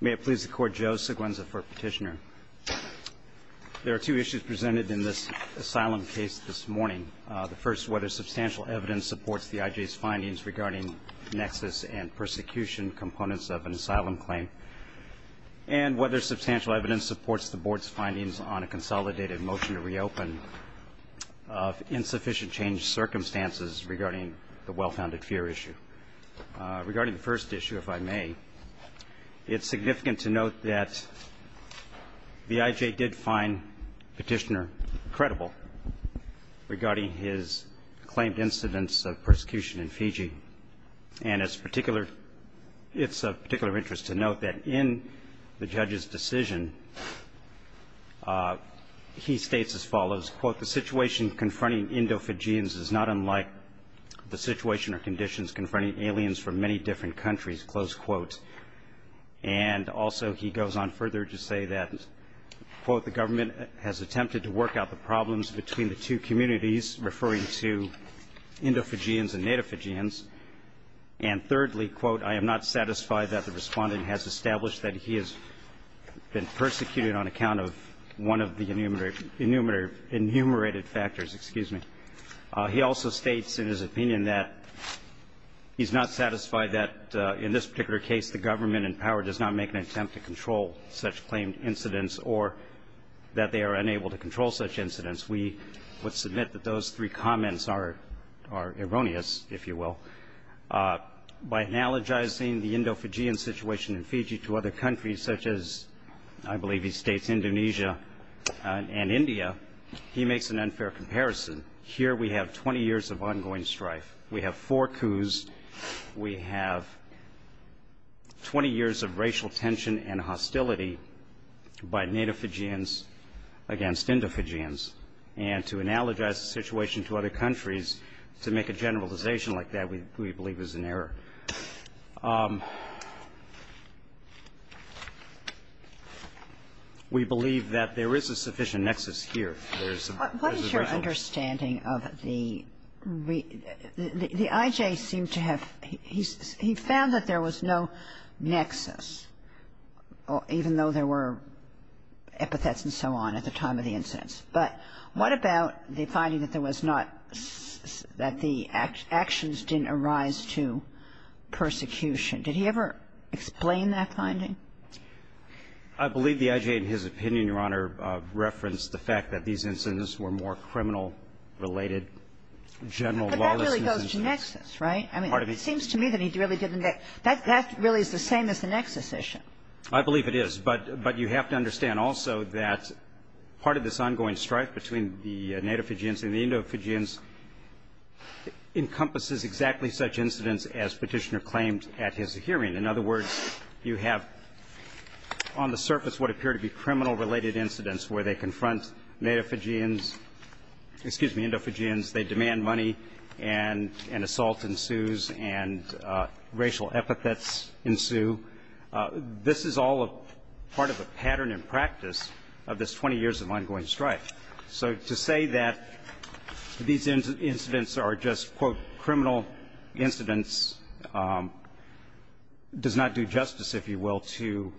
May it please the Court, Joe Seguenza for Petitioner. There are two issues presented in this asylum case this morning. The first, whether substantial evidence supports the IJ's findings regarding nexus and persecution components of an asylum claim, and whether substantial evidence supports the Board's findings on a consolidated motion to reopen of insufficient change circumstances regarding the well-founded fear issue. Regarding the first issue, if I may, it's significant to note that the IJ did find Petitioner credible regarding his claimed incidents of persecution in Fiji, and it's of particular interest to note that in the judge's decision he states as follows, quote, the situation confronting Indo-Fijians is not unlike the situation or conditions confronting aliens from many different countries, close quote. And also he goes on further to say that, quote, the government has attempted to work out the problems between the two communities, referring to Indo-Fijians and Native Fijians, and thirdly, quote, I am not satisfied that the respondent has established that he has been persecuted on account of one of the enumerated factors. Excuse me. He also states in his opinion that he's not satisfied that in this particular case the government in power does not make an attempt to control such claimed incidents or that they are unable to control such incidents. We would submit that those three comments are erroneous, if you will. By analogizing the Indo-Fijian situation in Fiji to other countries, such as I believe he states Indonesia and India, he makes an unfair comparison. Here we have 20 years of ongoing strife. We have four coups. We have 20 years of racial tension and hostility by Native Fijians against Indo-Fijians. And to analogize the situation to other countries, to make a generalization like that, we believe is an error. We believe that there is a sufficient nexus here. There is a balance. What is your understanding of the IJ seemed to have he found that there was no nexus, even though there were epithets and so on at the time of the incidents. But what about the finding that there was not that the actions didn't arise to persecution? Did he ever explain that finding? I believe the IJ in his opinion, Your Honor, referenced the fact that these incidents were more criminal-related, general lawlessness. But that really goes to nexus, right? I mean, it seems to me that he really didn't. That really is the same as the nexus issue. I believe it is. But you have to understand also that part of this ongoing strife between the Native Fijians and the Indo-Fijians encompasses exactly such incidents as Petitioner claimed at his hearing. In other words, you have on the surface what appear to be criminal-related incidents where they confront Native Fijians, excuse me, Indo-Fijians, they demand money, and an assault ensues, and racial epithets ensue. This is all part of a pattern in practice of this 20 years of ongoing strife. So to say that these incidents are just, quote, criminal incidents does not do justice, if you will, to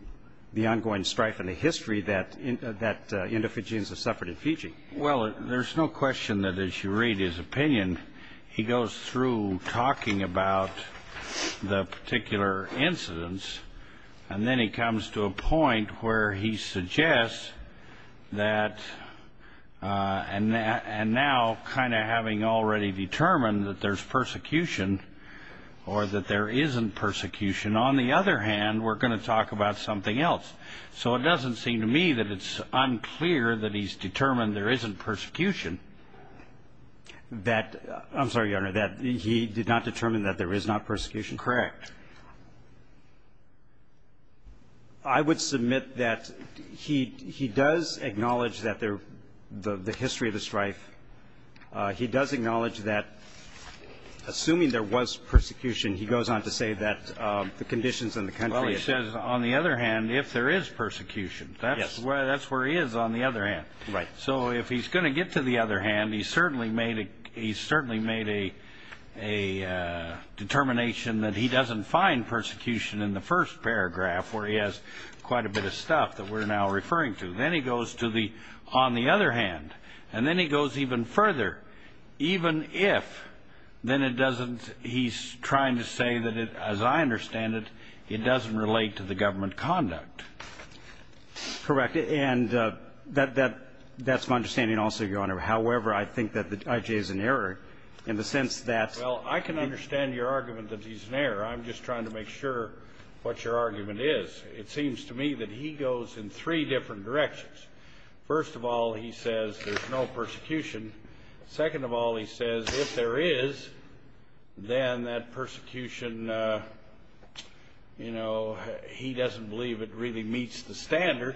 the ongoing strife and the history that Indo-Fijians have suffered in Fiji. Well, there's no question that as you read his opinion, he goes through talking about the particular incidents, and then he comes to a point where he suggests that, and now kind of having already determined that there's persecution or that there isn't persecution, on the other hand, we're going to talk about something else. So it doesn't seem to me that it's unclear that he's determined there isn't persecution. That, I'm sorry, Your Honor, that he did not determine that there is not persecution? Correct. I would submit that he does acknowledge that there the history of the strife. He does acknowledge that, assuming there was persecution, he goes on to say that the conditions in the country are different. Well, he says, on the other hand, if there is persecution. Yes. That's where he is on the other hand. Right. So if he's going to get to the other hand, he's certainly made a determination that he doesn't find persecution in the first paragraph, where he has quite a bit of stuff that we're now referring to. Then he goes to the, on the other hand, and then he goes even further. Even if, then it doesn't, he's trying to say that, as I understand it, it doesn't relate to the government conduct. Correct. And that's my understanding also, Your Honor. However, I think that I.J. is in error in the sense that. Well, I can understand your argument that he's in error. I'm just trying to make sure what your argument is. It seems to me that he goes in three different directions. First of all, he says there's no persecution. Second of all, he says if there is, then that persecution, you know, he doesn't believe it really meets the standard.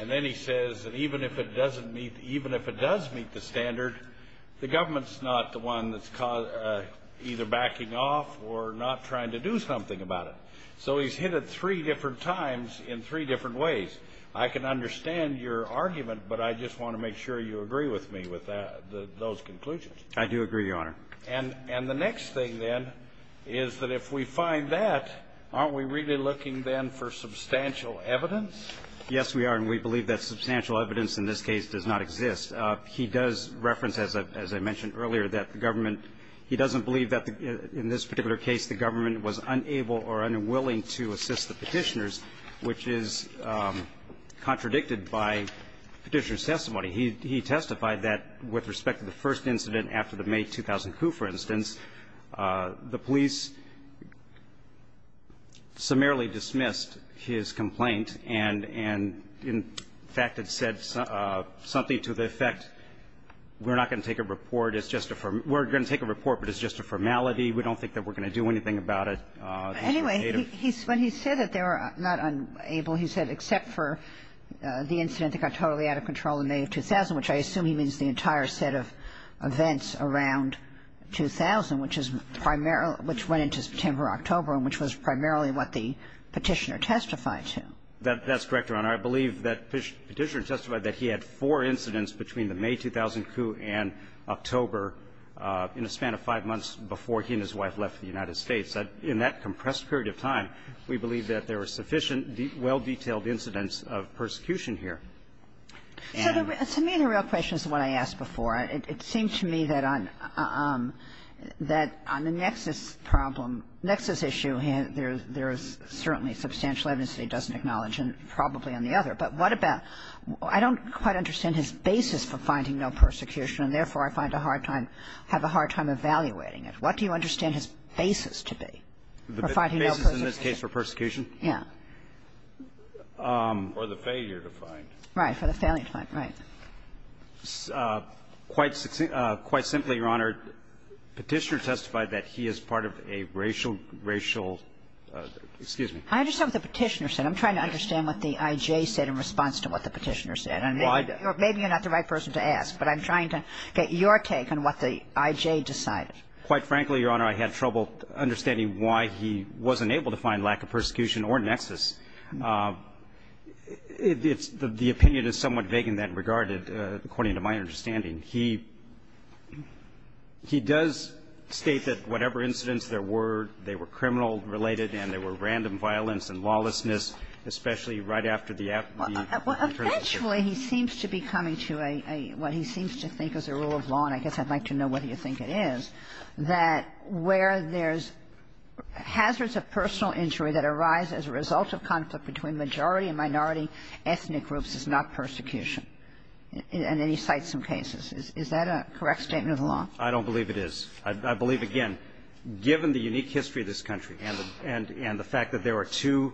And then he says that even if it doesn't meet, even if it does meet the standard, the government's not the one that's either backing off or not trying to do something about it. So he's hit it three different times in three different ways. I can understand your argument, but I just want to make sure you agree with me with that, those conclusions. I do agree, Your Honor. And the next thing, then, is that if we find that, aren't we really looking, then, for substantial evidence? Yes, we are. And we believe that substantial evidence in this case does not exist. He does reference, as I mentioned earlier, that the government, he doesn't believe that in this particular case the government was unable or unwilling to assist the Petitioners, which is contradicted by Petitioner's testimony. He testified that with respect to the first incident after the May 2002, for instance, the police summarily dismissed his complaint and in fact had said something to the effect, we're not going to take a report, it's just a formality, we don't think that we're going to do anything about it. Anyway, when he said that they were not unable, he said except for the incident which I assume he means the entire set of events around 2000, which is primarily which went into September or October and which was primarily what the Petitioner testified to. That's correct, Your Honor. I believe that Petitioner testified that he had four incidents between the May 2002 and October in a span of five months before he and his wife left the United States. In that compressed period of time, we believe that there were sufficient, well-detailed incidents of persecution here. So to me the real question is the one I asked before. It seems to me that on the nexus problem, nexus issue, there is certainly substantial evidence that he doesn't acknowledge and probably on the other. But what about, I don't quite understand his basis for finding no persecution and therefore I find a hard time, have a hard time evaluating it. What do you understand his basis to be for finding no persecution? The basis in this case for persecution? Yeah. For the failure to find. Right. For the failure to find. Right. Quite simply, Your Honor, Petitioner testified that he is part of a racial, racial excuse me. I understand what the Petitioner said. I'm trying to understand what the I.J. said in response to what the Petitioner said. And maybe you're not the right person to ask, but I'm trying to get your take on what the I.J. decided. Quite frankly, Your Honor, I had trouble understanding why he wasn't able to find lack of persecution or nexus. It's the opinion is somewhat vague in that regard, according to my understanding. He does state that whatever incidents there were, they were criminal-related and there were random violence and lawlessness, especially right after the attorney was killed. Well, eventually he seems to be coming to a, what he seems to think is a rule of law, and I guess I'd like to know whether you think it is, that where there's hazards of personal injury that arise as a result of conflict between majority and minority ethnic groups is not persecution. And then he cites some cases. Is that a correct statement of the law? I don't believe it is. I believe, again, given the unique history of this country and the fact that there are two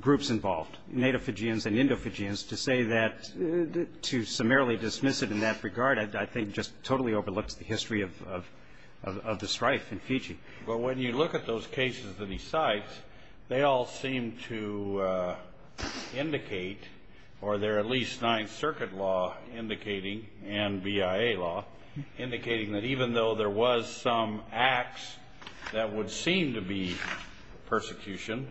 groups involved, native Fijians and Indo-Fijians, to say that to summarily dismiss it in that regard, I think just totally overlooks the history of the strife in Fiji. But when you look at those cases that he cites, they all seem to indicate, or there are at least Ninth Circuit law indicating and BIA law indicating that even though there was some acts that would seem to be persecution,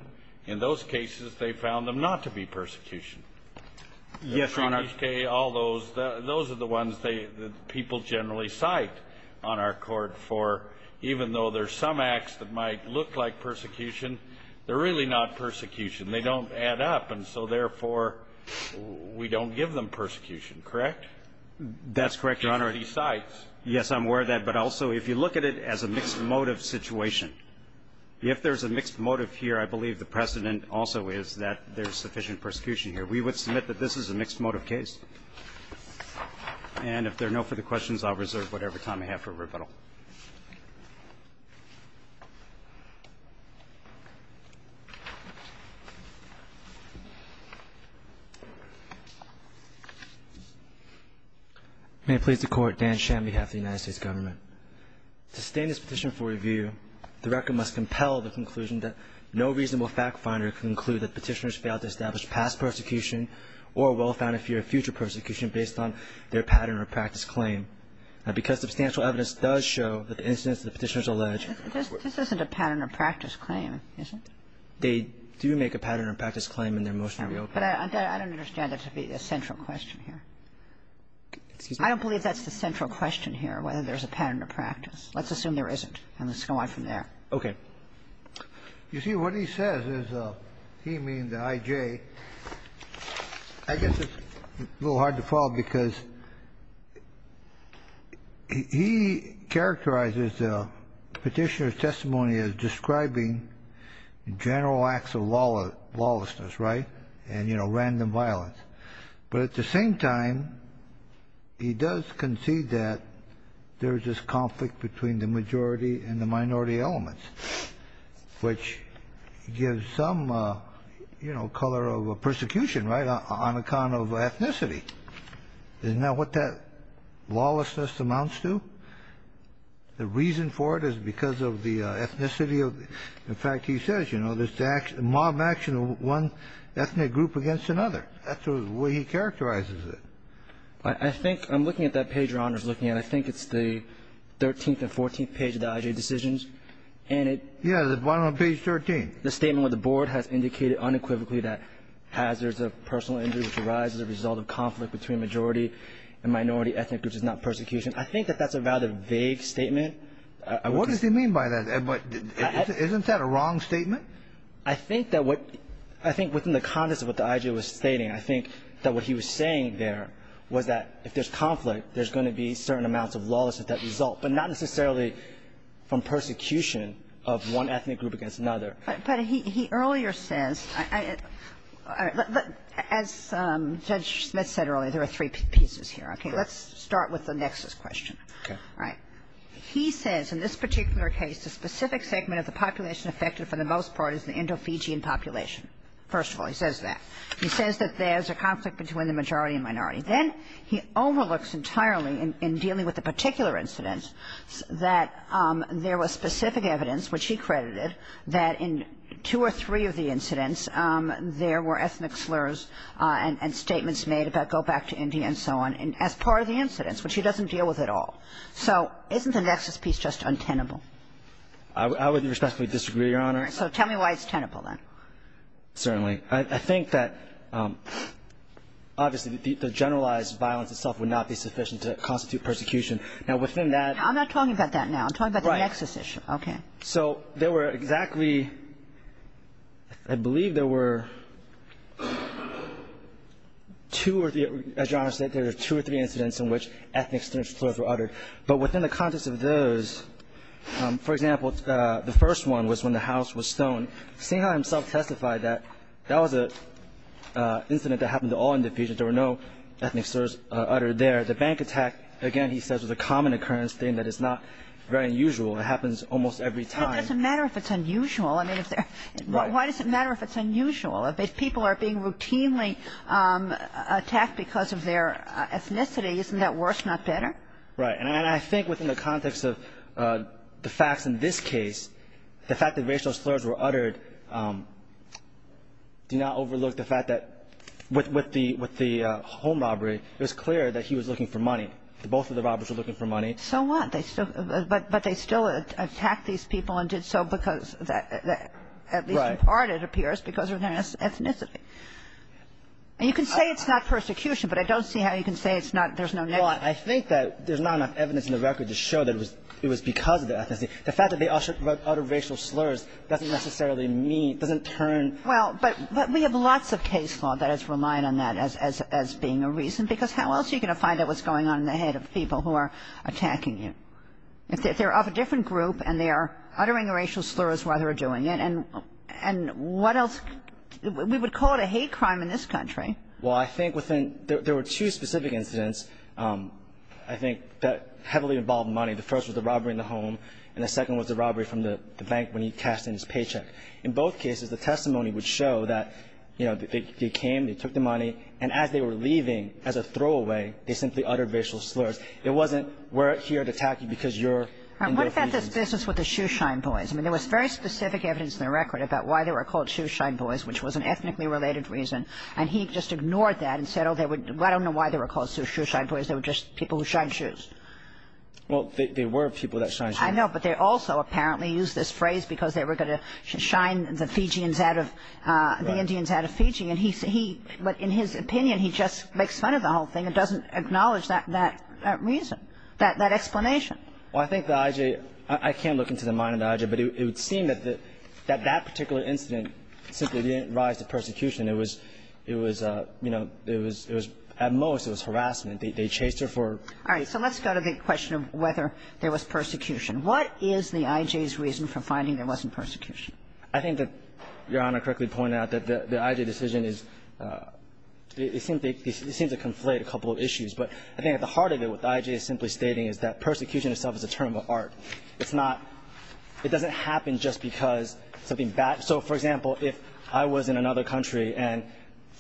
in those cases they found them not to be persecution. Yes, Your Honor. All those, those are the ones that people generally cite on our court for even though there's some acts that might look like persecution, they're really not persecution. They don't add up. And so, therefore, we don't give them persecution, correct? That's correct, Your Honor. Because he cites. Yes, I'm aware of that. But also, if you look at it as a mixed motive situation, if there's a mixed motive here, I believe the precedent also is that there's sufficient persecution here. We would submit that this is a mixed motive case. And if there are no further questions, I'll reserve whatever time I have for rebuttal. May it please the Court. Dan Sham on behalf of the United States Government. To sustain this petition for review, the record must compel the conclusion that no reasonable fact finder can conclude that Petitioners failed to establish past persecution or a well-founded fear of future persecution based on their pattern or practice claim. Now, because substantial evidence does show that the incidents that the Petitioners allege were. This isn't a pattern or practice claim, is it? They do make a pattern or practice claim in their motion to reopen. But I don't understand it to be a central question here. Excuse me? I don't believe that's the central question here, whether there's a pattern or practice. Let's assume there isn't. And let's go on from there. Okay. You see, what he says is he means the IJ. I guess it's a little hard to follow because he characterizes the Petitioner's testimony as describing general acts of lawlessness, right, and, you know, random violence. But at the same time, he does concede that there's this conflict between the majority and the minority elements, which gives some, you know, color of persecution, right, on account of ethnicity. Isn't that what that lawlessness amounts to? The reason for it is because of the ethnicity of the – in fact, he says, you know, there's mob action of one ethnic group against another. That's the way he characterizes it. I think – I'm looking at that page Your Honor is looking at. I think it's the 13th and 14th page of the IJ decisions. And it – Yeah, the bottom of page 13. The statement where the board has indicated unequivocally that hazards of personal injury which arise as a result of conflict between majority and minority ethnic groups is not persecution. I think that that's a rather vague statement. What does he mean by that? Isn't that a wrong statement? I think that what – I think within the context of what the IJ was stating, I think that what he was saying there was that if there's conflict, there's going to be certain amounts of lawlessness that result, but not necessarily from persecution of one ethnic group against another. But he earlier says – as Judge Smith said earlier, there are three pieces here. Okay. Let's start with the nexus question. Okay. All right. He says in this particular case, the specific segment of the population affected for the most part is the Indo-Fijian population. First of all, he says that. He says that there's a conflict between the majority and minority. Then he overlooks entirely in dealing with the particular incidents that there was specific evidence, which he credited, that in two or three of the incidents there were ethnic slurs and statements made about go back to India and so on as part of the incidents, which he doesn't deal with at all. So isn't the nexus piece just untenable? I would respectfully disagree, Your Honor. All right. So tell me why it's tenable, then. Certainly. I think that obviously the generalized violence itself would not be sufficient to constitute persecution. Now, within that – I'm not talking about that now. I'm talking about the nexus issue. Right. Okay. So there were exactly – I believe there were two or – as Your Honor said, there were two or three incidents in which ethnic slurs were uttered. But within the context of those, for example, the first one was when the house was stoned. Sinha himself testified that that was an incident that happened to all individuals. There were no ethnic slurs uttered there. The bank attack, again, he says, was a common occurrence, a thing that is not very unusual. It happens almost every time. Well, it doesn't matter if it's unusual. I mean, if there – Right. Why does it matter if it's unusual? If people are being routinely attacked because of their ethnicity, isn't that worse, not better? Right. And I think within the context of the facts in this case, the fact that racial slurs were uttered do not overlook the fact that with the – with the home robbery, it was clear that he was looking for money. Both of the robbers were looking for money. So what? But they still attacked these people and did so because – at least in part, it appears, because of their ethnicity. And you can say it's not persecution, but I don't see how you can say it's not – there's no nexus. Well, I think that there's not enough evidence in the record to show that it was because of their ethnicity. The fact that they uttered racial slurs doesn't necessarily mean – doesn't turn – Well, but we have lots of case law that has relied on that as being a reason, because how else are you going to find out what's going on in the head of people who are attacking you? If they're of a different group and they are uttering racial slurs while they're doing it, and what else – we would call it a hate crime in this country. Well, I think within – there were two specific incidents, I think, that heavily involved money. The first was the robbery in the home, and the second was the robbery from the bank when he cashed in his paycheck. In both cases, the testimony would show that, you know, they came, they took the money, and as they were leaving, as a throwaway, they simply uttered racial slurs. It wasn't, we're here to attack you because you're – All right. What about this business with the Shoeshine Boys? I mean, there was very specific evidence in the record about why they were called I don't know why they were called Shoeshine Boys. They were just people who shined shoes. Well, they were people that shined shoes. I know, but they also apparently used this phrase because they were going to shine the Fijians out of – the Indians out of Fiji. But in his opinion, he just makes fun of the whole thing and doesn't acknowledge that reason, that explanation. Well, I think the IJ – I can't look into the mind of the IJ, but it would seem that that particular incident simply didn't rise to persecution. It was, you know, it was – at most, it was harassment. They chased her for – All right. So let's go to the question of whether there was persecution. What is the IJ's reason for finding there wasn't persecution? I think that Your Honor correctly pointed out that the IJ decision is – it seems to conflate a couple of issues. But I think at the heart of it, what the IJ is simply stating is that persecution itself is a term of art. It's not – it doesn't happen just because something bad – so, for example, if I was in another country and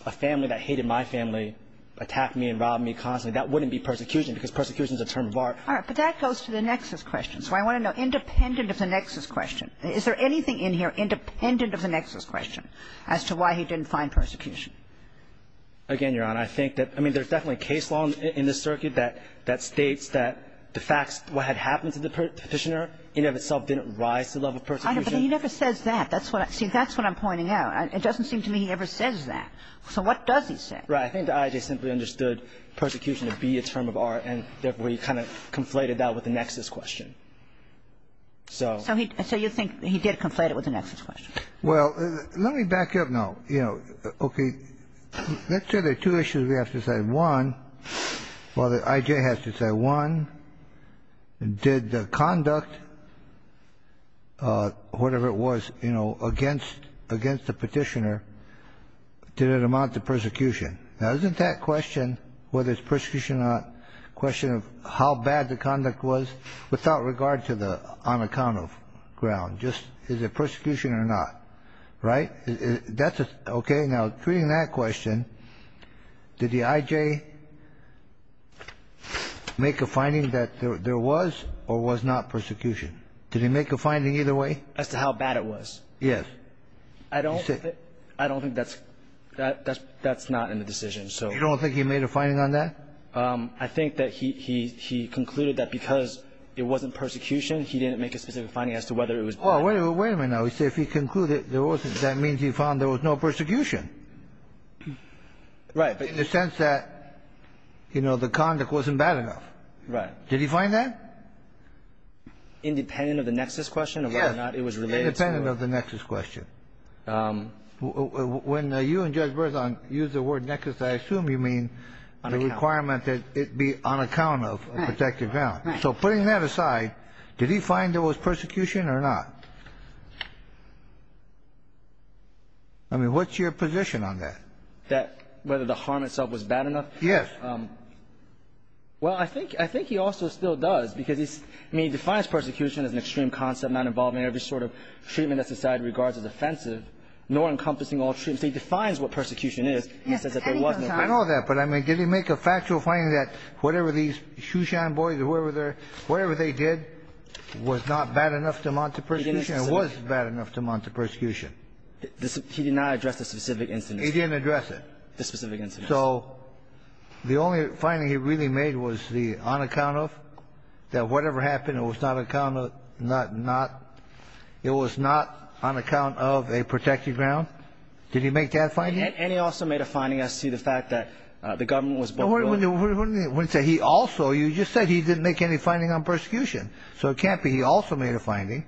a family that hated my family attacked me and robbed me constantly, that wouldn't be persecution because persecution is a term of art. All right. But that goes to the nexus question. So I want to know, independent of the nexus question, is there anything in here independent of the nexus question as to why he didn't find persecution? Again, Your Honor, I think that – I mean, there's definitely case law in this circuit that states that the facts – what had happened to the petitioner in and of itself didn't rise to the level of persecution. But he never says that. That's what – see, that's what I'm pointing out. It doesn't seem to me he ever says that. So what does he say? Right. I think the IJ simply understood persecution to be a term of art, and therefore he kind of conflated that with the nexus question. So he – so you think he did conflate it with the nexus question. Well, let me back up now. You know, okay, let's say there are two issues we have to decide. Well, the IJ has to decide, one, did the conduct, whatever it was, you know, against the petitioner, did it amount to persecution? Now, isn't that question, whether it's persecution or not, a question of how bad the conduct was without regard to the on account of ground, just is it persecution or not? Right? That's a – okay. Now, treating that question, did the IJ make a finding that there was or was not persecution? Did he make a finding either way? As to how bad it was? Yes. I don't think that's – that's not in the decision. You don't think he made a finding on that? I think that he concluded that because it wasn't persecution, he didn't make a specific finding as to whether it was bad. Well, wait a minute now. He said if he concluded there wasn't, that means he found there was no persecution. Right. In the sense that, you know, the conduct wasn't bad enough. Right. Did he find that? Independent of the nexus question of whether or not it was related to – Independent of the nexus question. When you and Judge Berzon used the word nexus, I assume you mean the requirement that it be on account of protected ground. Right. So putting that aside, did he find there was persecution or not? I mean, what's your position on that? That – whether the harm itself was bad enough? Yes. Well, I think – I think he also still does, because he's – I mean, he defines persecution as an extreme concept not involving every sort of treatment that society regards as offensive, nor encompassing all treatments. He defines what persecution is. He says that there was no – Whatever they did was not bad enough to amount to persecution or was bad enough to amount to persecution. He did not address the specific incident. He didn't address it. The specific incident. So the only finding he really made was the on account of, that whatever happened, it was not on account of a protected ground. Did he make that finding? And he also made a finding as to the fact that the government was – He also – you just said he didn't make any finding on persecution. So it can't be he also made a finding.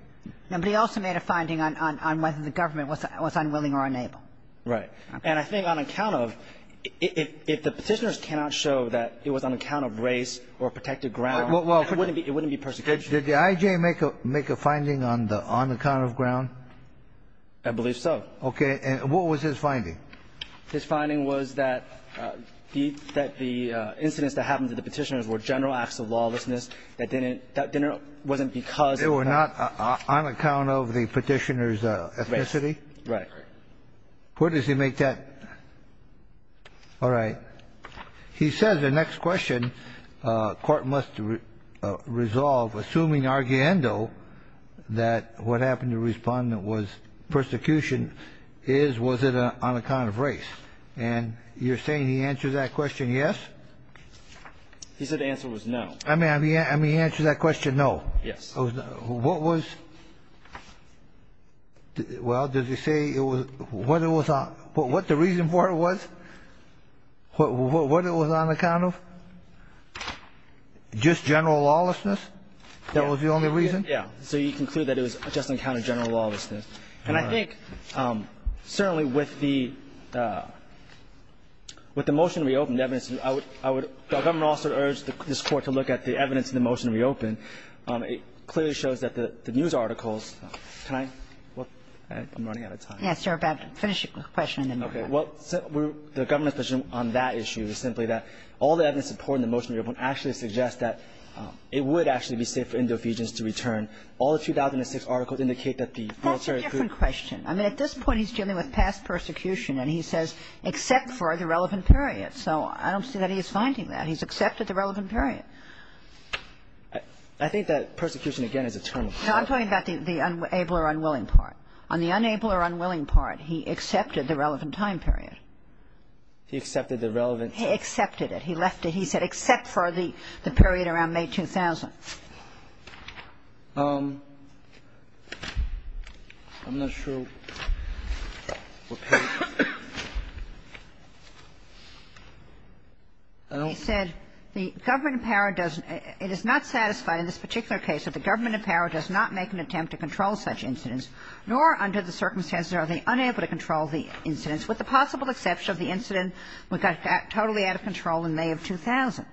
No, but he also made a finding on whether the government was unwilling or unable. Right. And I think on account of – if the Petitioners cannot show that it was on account of race or protected ground, it wouldn't be persecution. Did the I.J. make a finding on the on account of ground? I believe so. Okay. And what was his finding? His finding was that the incidents that happened to the Petitioners were general acts of lawlessness. That didn't – that wasn't because – They were not on account of the Petitioners' ethnicity? Right. Right. Where does he make that – all right. He says the next question court must resolve, that what happened to respondent was persecution is was it on account of race. And you're saying he answers that question yes? He said the answer was no. I mean, he answers that question no. Yes. What was – well, does he say what the reason for it was? What it was on account of? Just general lawlessness? That was the only reason? Yeah. So you conclude that it was just on account of general lawlessness. All right. And I think certainly with the – with the motion to reopen the evidence, I would – I would – the government also urged this Court to look at the evidence in the motion to reopen. It clearly shows that the news articles – can I – I'm running out of time. Yes, you're about to finish your question and then we'll have it. Okay. Well, the government's position on that issue is simply that all the evidence supporting the motion to reopen actually suggests that it would actually be safe for Indio Ephesians to return. All the 2006 articles indicate that the military could – That's a different question. I mean, at this point he's dealing with past persecution and he says except for the relevant period. So I don't see that he is finding that. He's accepted the relevant period. I think that persecution, again, is a term of – No, I'm talking about the able or unwilling part. On the unable or unwilling part, he accepted the relevant time period. He accepted the relevant – He accepted it. He left it, he said, except for the period around May 2000. I'm not sure what period. He said the government in power does – it is not satisfied in this particular case that the government in power does not make an attempt to control such incidents, nor under the circumstances are they unable to control the incidents, with the possible exception of the incident we got totally out of control in May of 2000.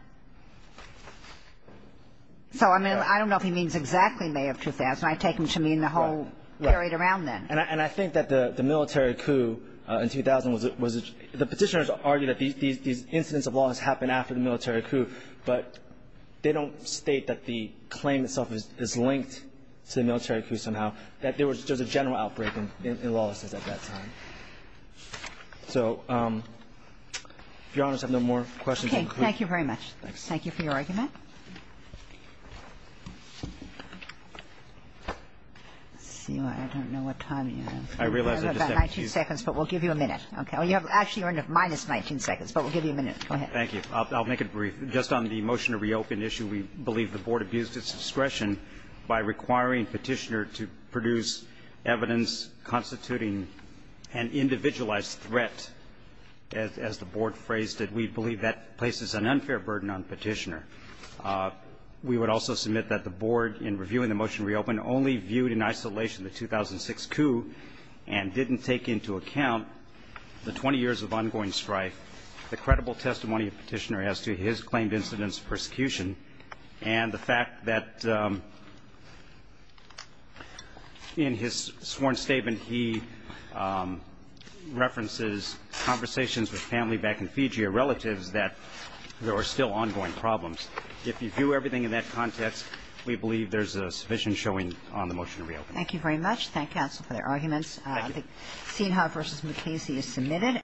So, I mean, I don't know if he means exactly May of 2000. I take him to mean the whole period around then. And I think that the military coup in 2000 was – the petitioners argue that these incidents of law has happened after the military coup, but they don't state that the claim itself is linked to the military coup somehow, that there was just a general outbreak in lawlessness at that time. So, if Your Honor, I have no more questions. Okay. Thank you very much. Thank you for your argument. Let's see. I don't know what time you have. I realize I just have a few. You have about 19 seconds, but we'll give you a minute. Okay. Actually, you're under minus 19 seconds, but we'll give you a minute. Go ahead. Thank you. I'll make it brief. Just on the motion to reopen issue, we believe the Board abused its discretion by requiring petitioner to produce evidence constituting an individualized threat, as the Board phrased it. We believe that places an unfair burden on petitioner. We would also submit that the Board, in reviewing the motion to reopen, only viewed in isolation the 2006 coup and didn't take into account the 20 years of ongoing strife, the credible testimony of petitioner as to his claimed incidents of violence, and that in his sworn statement, he references conversations with family back in Fiji, or relatives, that there were still ongoing problems. If you view everything in that context, we believe there's sufficient showing on the motion to reopen. Thank you very much. Thank counsel for their arguments. Thank you. The Seahawks v. McCasey is submitted.